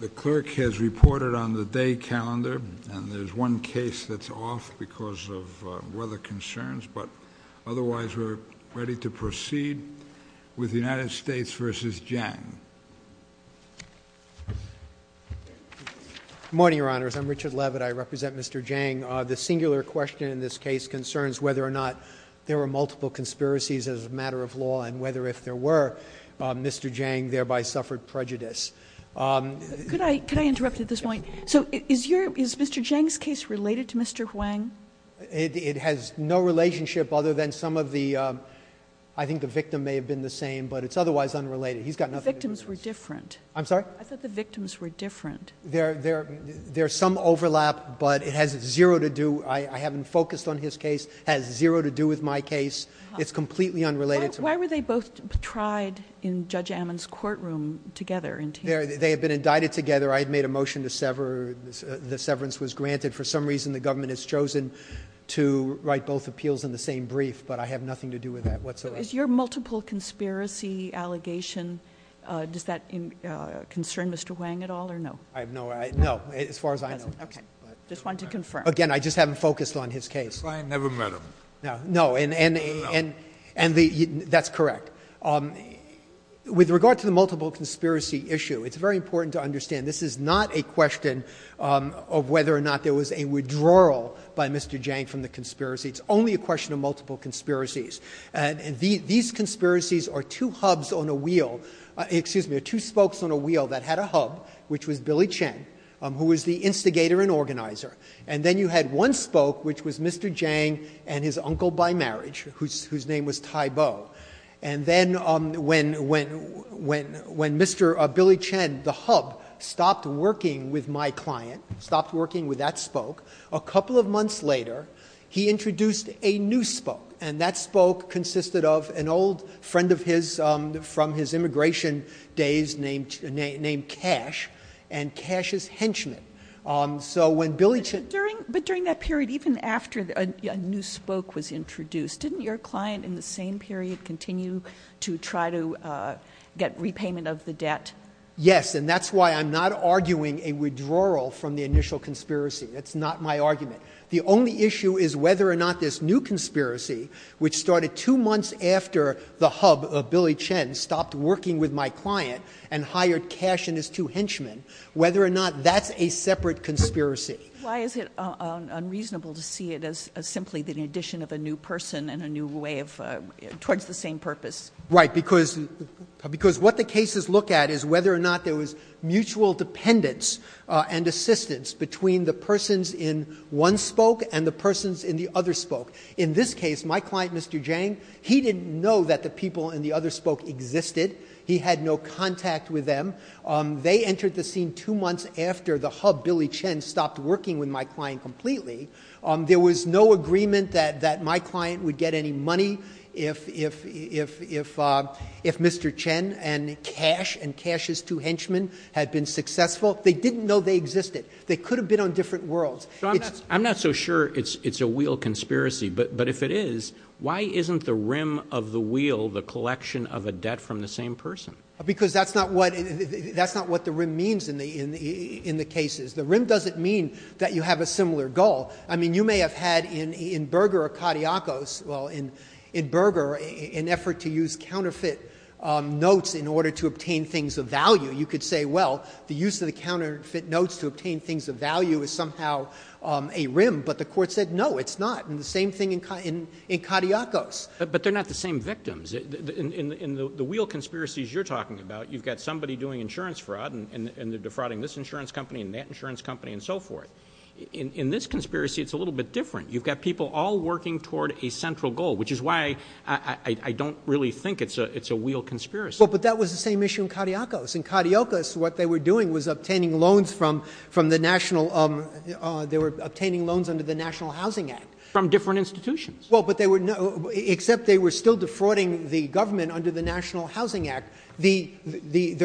The clerk has reported on the day calendar, and there's one case that's off because of weather concerns, but otherwise we're ready to proceed with the United States v. Zhang. Good morning, Your Honors. I'm Richard Levitt. I represent Mr. Zhang. The singular question in this case concerns whether or not there were multiple conspiracies as a matter of law, and whether if there were, Mr. Zhang thereby suffered prejudice. Could I interrupt at this point? So is Mr. Zhang's case related to Mr. Huang? It has no relationship other than some of the, I think the victim may have been the same, but it's otherwise unrelated. He's got nothing to do with this. The victims were different. I'm sorry? I thought the victims were different. There's some overlap, but it has zero to do, I haven't focused on his case, has zero to do with my case. It's completely unrelated to my case. Why were they both tried in Judge Ammon's courtroom together? They had been indicted together. I had made a motion to sever. The severance was granted. For some reason the government has chosen to write both appeals in the same brief, but I have nothing to do with that whatsoever. So is your multiple conspiracy allegation, does that concern Mr. Huang at all or no? No, as far as I know. Okay. Just wanted to confirm. Again, I just haven't focused on his case. That's why I never met him. No, and that's correct. With regard to the multiple conspiracy issue, it's very important to understand this is not a question of whether or not there was a withdrawal by Mr. Zhang from the conspiracy. It's only a question of multiple conspiracies. And these conspiracies are two hubs on a wheel, excuse me, are two spokes on a wheel that had a hub, which was Billy Chen, who was the instigator and organizer. And then you had one spoke, which was Mr. Zhang and his uncle by marriage, whose name was Tai Bo. And then when Mr. Billy Chen, the hub, stopped working with my client, stopped working with that spoke, a couple of months later he introduced a new spoke. And that spoke consisted of an old friend of his from his immigration days named Cash. And Cash is henchman. But during that period, even after a new spoke was introduced, didn't your client in the same period continue to try to get repayment of the debt? Yes, and that's why I'm not arguing a withdrawal from the initial conspiracy. That's not my argument. The only issue is whether or not this new conspiracy, which started two months after the hub of Billy Chen stopped working with my client and hired Cash and his two henchmen, whether or not that's a separate conspiracy. Why is it unreasonable to see it as simply the addition of a new person and a new way of ‑‑ towards the same purpose? Right, because what the cases look at is whether or not there was mutual dependence and assistance between the persons in one spoke and the persons in the other spoke. In this case, my client, Mr. Zhang, he didn't know that the people in the other spoke existed. He had no contact with them. They entered the scene two months after the hub, Billy Chen, stopped working with my client completely. There was no agreement that my client would get any money if Mr. Chen and Cash and Cash's two henchmen had been successful. They didn't know they existed. They could have been on different worlds. I'm not so sure it's a wheel conspiracy, but if it is, why isn't the rim of the wheel the collection of a debt from the same person? Because that's not what the rim means in the cases. The rim doesn't mean that you have a similar goal. I mean, you may have had in Berger or Katiakos, well, in Berger, an effort to use counterfeit notes in order to obtain things of value. You could say, well, the use of the counterfeit notes to obtain things of value is somehow a rim, but the court said no, it's not. And the same thing in Katiakos. But they're not the same victims. In the wheel conspiracies you're talking about, you've got somebody doing insurance fraud and they're defrauding this insurance company and that insurance company and so forth. In this conspiracy, it's a little bit different. You've got people all working toward a central goal, which is why I don't really think it's a wheel conspiracy. Well, but that was the same issue in Katiakos. In Katiakos, what they were doing was obtaining loans from the national ‑‑ they were obtaining loans under the National Housing Act. From different institutions. Well, but they were ‑‑ except they were still defrauding the government under the National Housing Act. The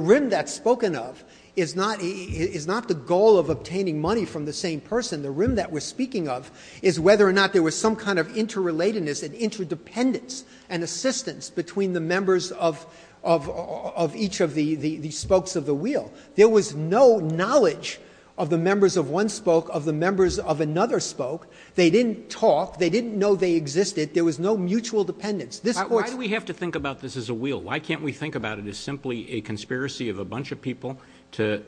rim that's spoken of is not the goal of obtaining money from the same person. The rim that we're speaking of is whether or not there was some kind of interrelatedness and interdependence and assistance between the members of each of the spokes of the wheel. There was no knowledge of the members of one spoke, of the members of another spoke. They didn't talk. They didn't know they existed. There was no mutual dependence. Why do we have to think about this as a wheel? Why can't we think about it as simply a conspiracy of a bunch of people to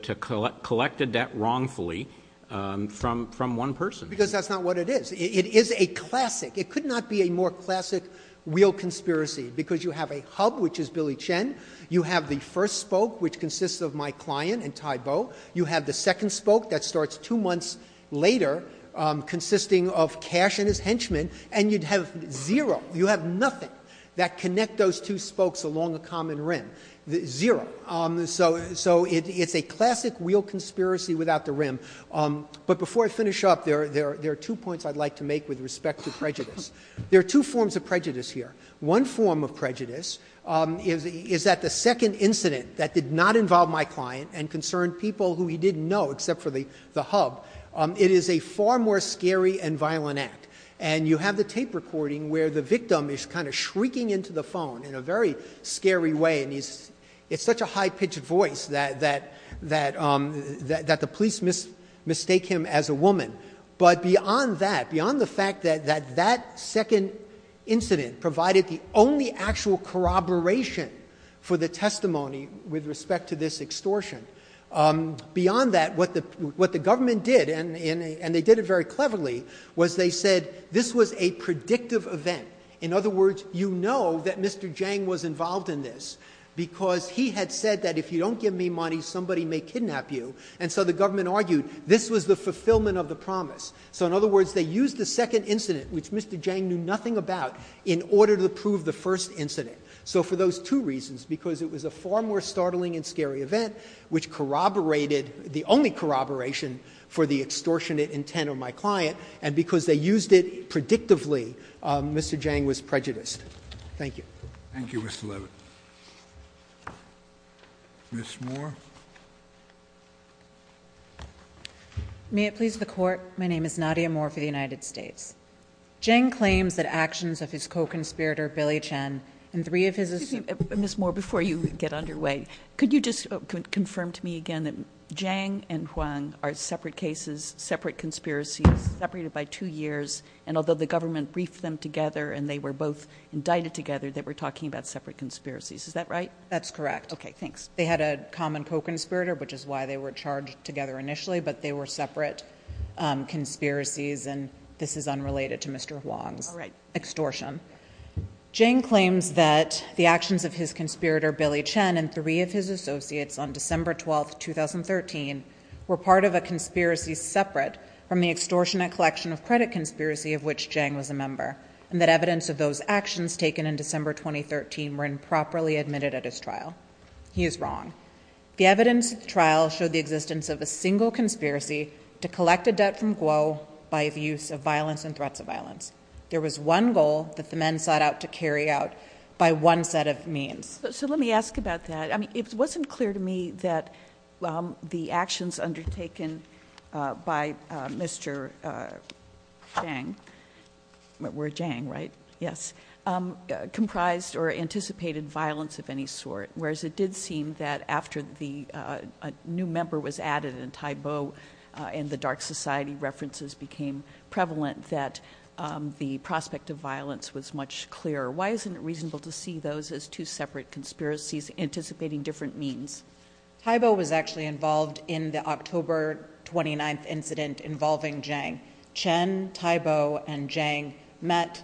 collect a debt wrongfully from one person? Because that's not what it is. It is a classic. It could not be a more classic wheel conspiracy because you have a hub, which is Billy Chen. You have the first spoke, which consists of my client and Ty Bow. You have the second spoke that starts two months later, consisting of Cash and his henchman, and you'd have zero. You have nothing that connect those two spokes along a common rim. Zero. So it's a classic wheel conspiracy without the rim. But before I finish up, there are two points I'd like to make with respect to prejudice. There are two forms of prejudice here. One form of prejudice is that the second incident that did not involve my client and concerned people who he didn't know except for the hub, it is a far more scary and violent act. And you have the tape recording where the victim is kind of shrieking into the phone in a very scary way, and it's such a high-pitched voice that the police mistake him as a woman. But beyond that, beyond the fact that that second incident provided the only actual corroboration for the testimony with respect to this extortion, beyond that, what the government did, and they did it very cleverly, was they said this was a predictive event. In other words, you know that Mr. Jang was involved in this because he had said that if you don't give me money, somebody may kidnap you. And so the government argued this was the fulfillment of the promise. So in other words, they used the second incident, which Mr. Jang knew nothing about, in order to prove the first incident. So for those two reasons, because it was a far more startling and scary event, which corroborated the only corroboration for the extortionate intent of my client, and because they used it predictively, Mr. Jang was prejudiced. Thank you. Thank you, Mr. Levitt. Ms. Moore. May it please the Court, my name is Nadia Moore for the United States. Jang claims that actions of his co-conspirator, Billy Chen, and three of his associates Excuse me, Ms. Moore, before you get underway, could you just confirm to me again that Jang and Hwang are separate cases, separate conspiracies, separated by two years, and although the government briefed them together and they were both indicted together, they were talking about separate conspiracies, is that right? That's correct. Okay, thanks. They had a common co-conspirator, which is why they were charged together initially, but they were separate conspiracies, and this is unrelated to Mr. Hwang's extortion. Jang claims that the actions of his conspirator, Billy Chen, and three of his associates on December 12, 2013, were part of a conspiracy separate from the extortionate collection of credit conspiracy of which Jang was a member, and that evidence of those actions taken in December 2013 were improperly admitted at his trial. He is wrong. The evidence of the trial showed the existence of a single conspiracy to collect a debt from Guo by the use of violence and threats of violence. There was one goal that the men sought out to carry out by one set of means. So let me ask about that. I mean, it wasn't clear to me that the actions undertaken by Mr. Jang, were Jang, right? Yes. Comprised or anticipated violence of any sort, whereas it did seem that after the new member was added in Thai Bo and the Dark Society, references became prevalent that the prospect of violence was much clearer. Why isn't it reasonable to see those as two separate conspiracies anticipating different means? Thai Bo was actually involved in the October 29th incident involving Jang. Chen, Thai Bo, and Jang met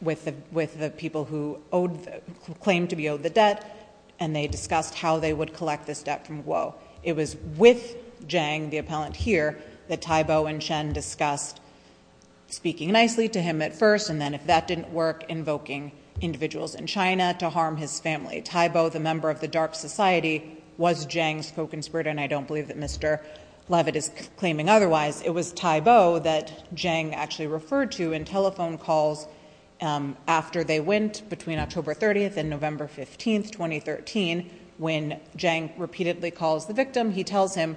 with the people who claimed to be owed the debt, and they discussed how they would collect this debt from Guo. It was with Jang, the appellant here, that Thai Bo and Chen discussed speaking nicely to him at first, and then if that didn't work, invoking individuals in China to harm his family. Thai Bo, the member of the Dark Society, was Jang's spoken spirit, and I don't believe that Mr. Levitt is claiming otherwise. It was Thai Bo that Jang actually referred to in telephone calls after they went between October 30th and November 15th, 2013. When Jang repeatedly calls the victim, he tells him,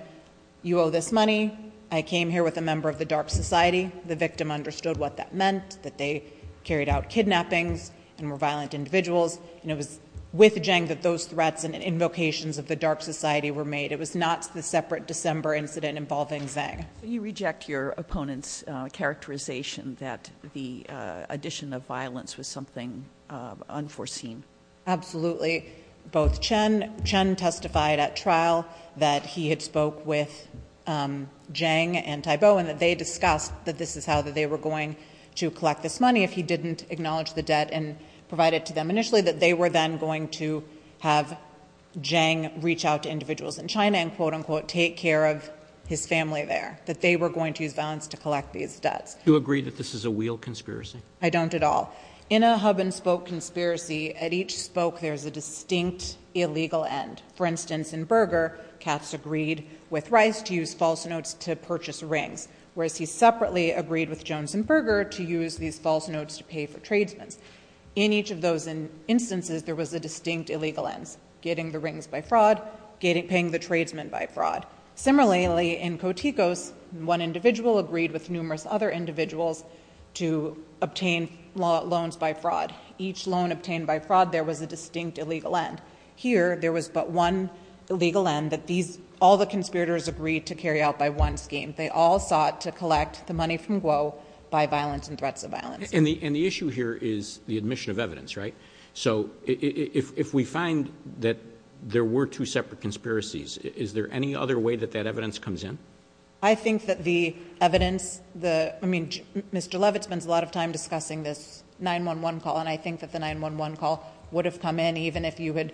you owe this money. I came here with a member of the Dark Society. The victim understood what that meant, that they carried out kidnappings and were violent individuals, and it was with Jang that those threats and invocations of the Dark Society were made. It was not the separate December incident involving Jang. So you reject your opponent's characterization that the addition of violence was something unforeseen? Absolutely. Chen testified at trial that he had spoke with Jang and Thai Bo and that they discussed that this is how they were going to collect this money if he didn't acknowledge the debt and provide it to them initially, that they were then going to have Jang reach out to individuals in China and, quote, unquote, take care of his family there, that they were going to use violence to collect these debts. Do you agree that this is a real conspiracy? I don't at all. In a hub-and-spoke conspiracy, at each spoke there's a distinct illegal end. For instance, in Berger, Katz agreed with Rice to use false notes to purchase rings, whereas he separately agreed with Jones and Berger to use these false notes to pay for tradesmen. In each of those instances, there was a distinct illegal end, getting the rings by fraud, paying the tradesmen by fraud. Similarly, in Kotikos, one individual agreed with numerous other individuals to obtain loans by fraud. Each loan obtained by fraud, there was a distinct illegal end. Here, there was but one illegal end that all the conspirators agreed to carry out by one scheme. They all sought to collect the money from Guo by violence and threats of violence. And the issue here is the admission of evidence, right? So if we find that there were two separate conspiracies, is there any other way that that evidence comes in? I think that the evidence, I mean, Mr. Levitt spends a lot of time discussing this 911 call, and I think that the 911 call would have come in even if you had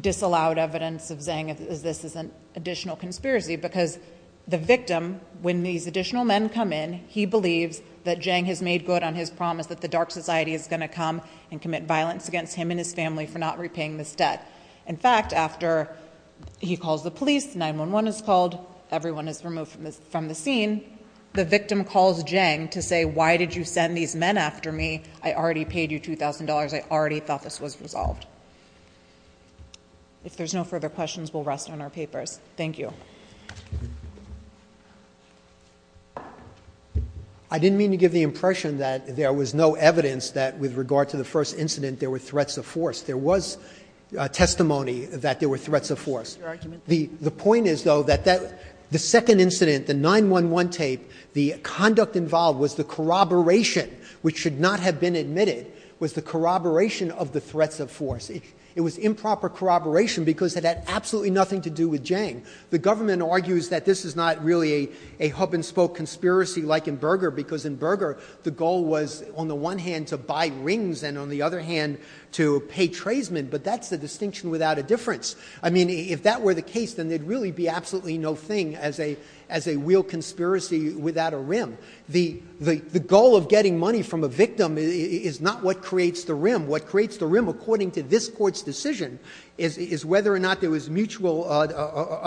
disallowed evidence of saying this is an additional conspiracy, because the victim, when these additional men come in, he believes that Jang has made good on his promise that the dark society is going to come and commit violence against him and his family for not repaying this debt. In fact, after he calls the police, 911 is called, everyone is removed from the scene. The victim calls Jang to say, why did you send these men after me? I already paid you $2,000. I already thought this was resolved. If there's no further questions, we'll rest on our papers. Thank you. I didn't mean to give the impression that there was no evidence that with regard to the first incident there were threats of force. There was testimony that there were threats of force. The point is, though, that the second incident, the 911 tape, the conduct involved was the corroboration, which should not have been admitted, was the corroboration of the threats of force. It was improper corroboration because it had absolutely nothing to do with Jang. The government argues that this is not really a hub-and-spoke conspiracy like in Berger because in Berger the goal was on the one hand to buy rings and on the other hand to pay tradesmen, but that's the distinction without a difference. I mean, if that were the case, then there'd really be absolutely no thing as a real conspiracy without a rim. The goal of getting money from a victim is not what creates the rim. What creates the rim, according to this Court's decision, is whether or not there was mutual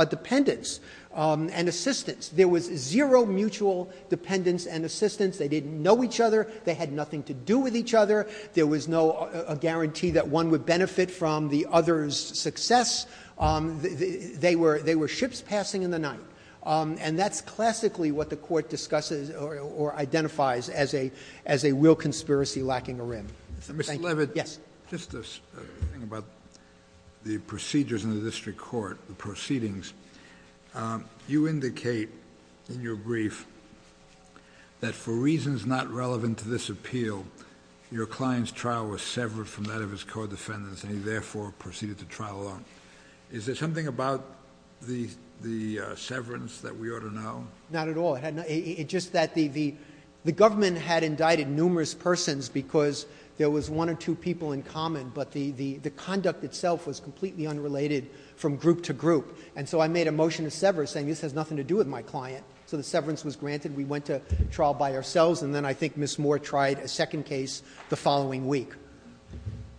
dependence and assistance. There was zero mutual dependence and assistance. They didn't know each other. They had nothing to do with each other. There was no guarantee that one would benefit from the other's success. They were ships passing in the night. And that's classically what the Court discusses or identifies as a real conspiracy lacking a rim. Mr. Levitt, just a thing about the procedures in the district court, the proceedings. You indicate in your brief that for reasons not relevant to this appeal, your client's trial was severed from that of his co-defendants and he therefore proceeded to trial alone. Is there something about the severance that we ought to know? Not at all. The government had indicted numerous persons because there was one or two people in common, but the conduct itself was completely unrelated from group to group. And so I made a motion to sever saying this has nothing to do with my client. So the severance was granted. We went to trial by ourselves. And then I think Ms. Moore tried a second case the following week.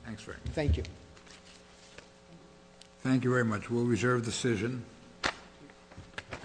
Thanks very much. Thank you. Thank you very much. We'll reserve decision.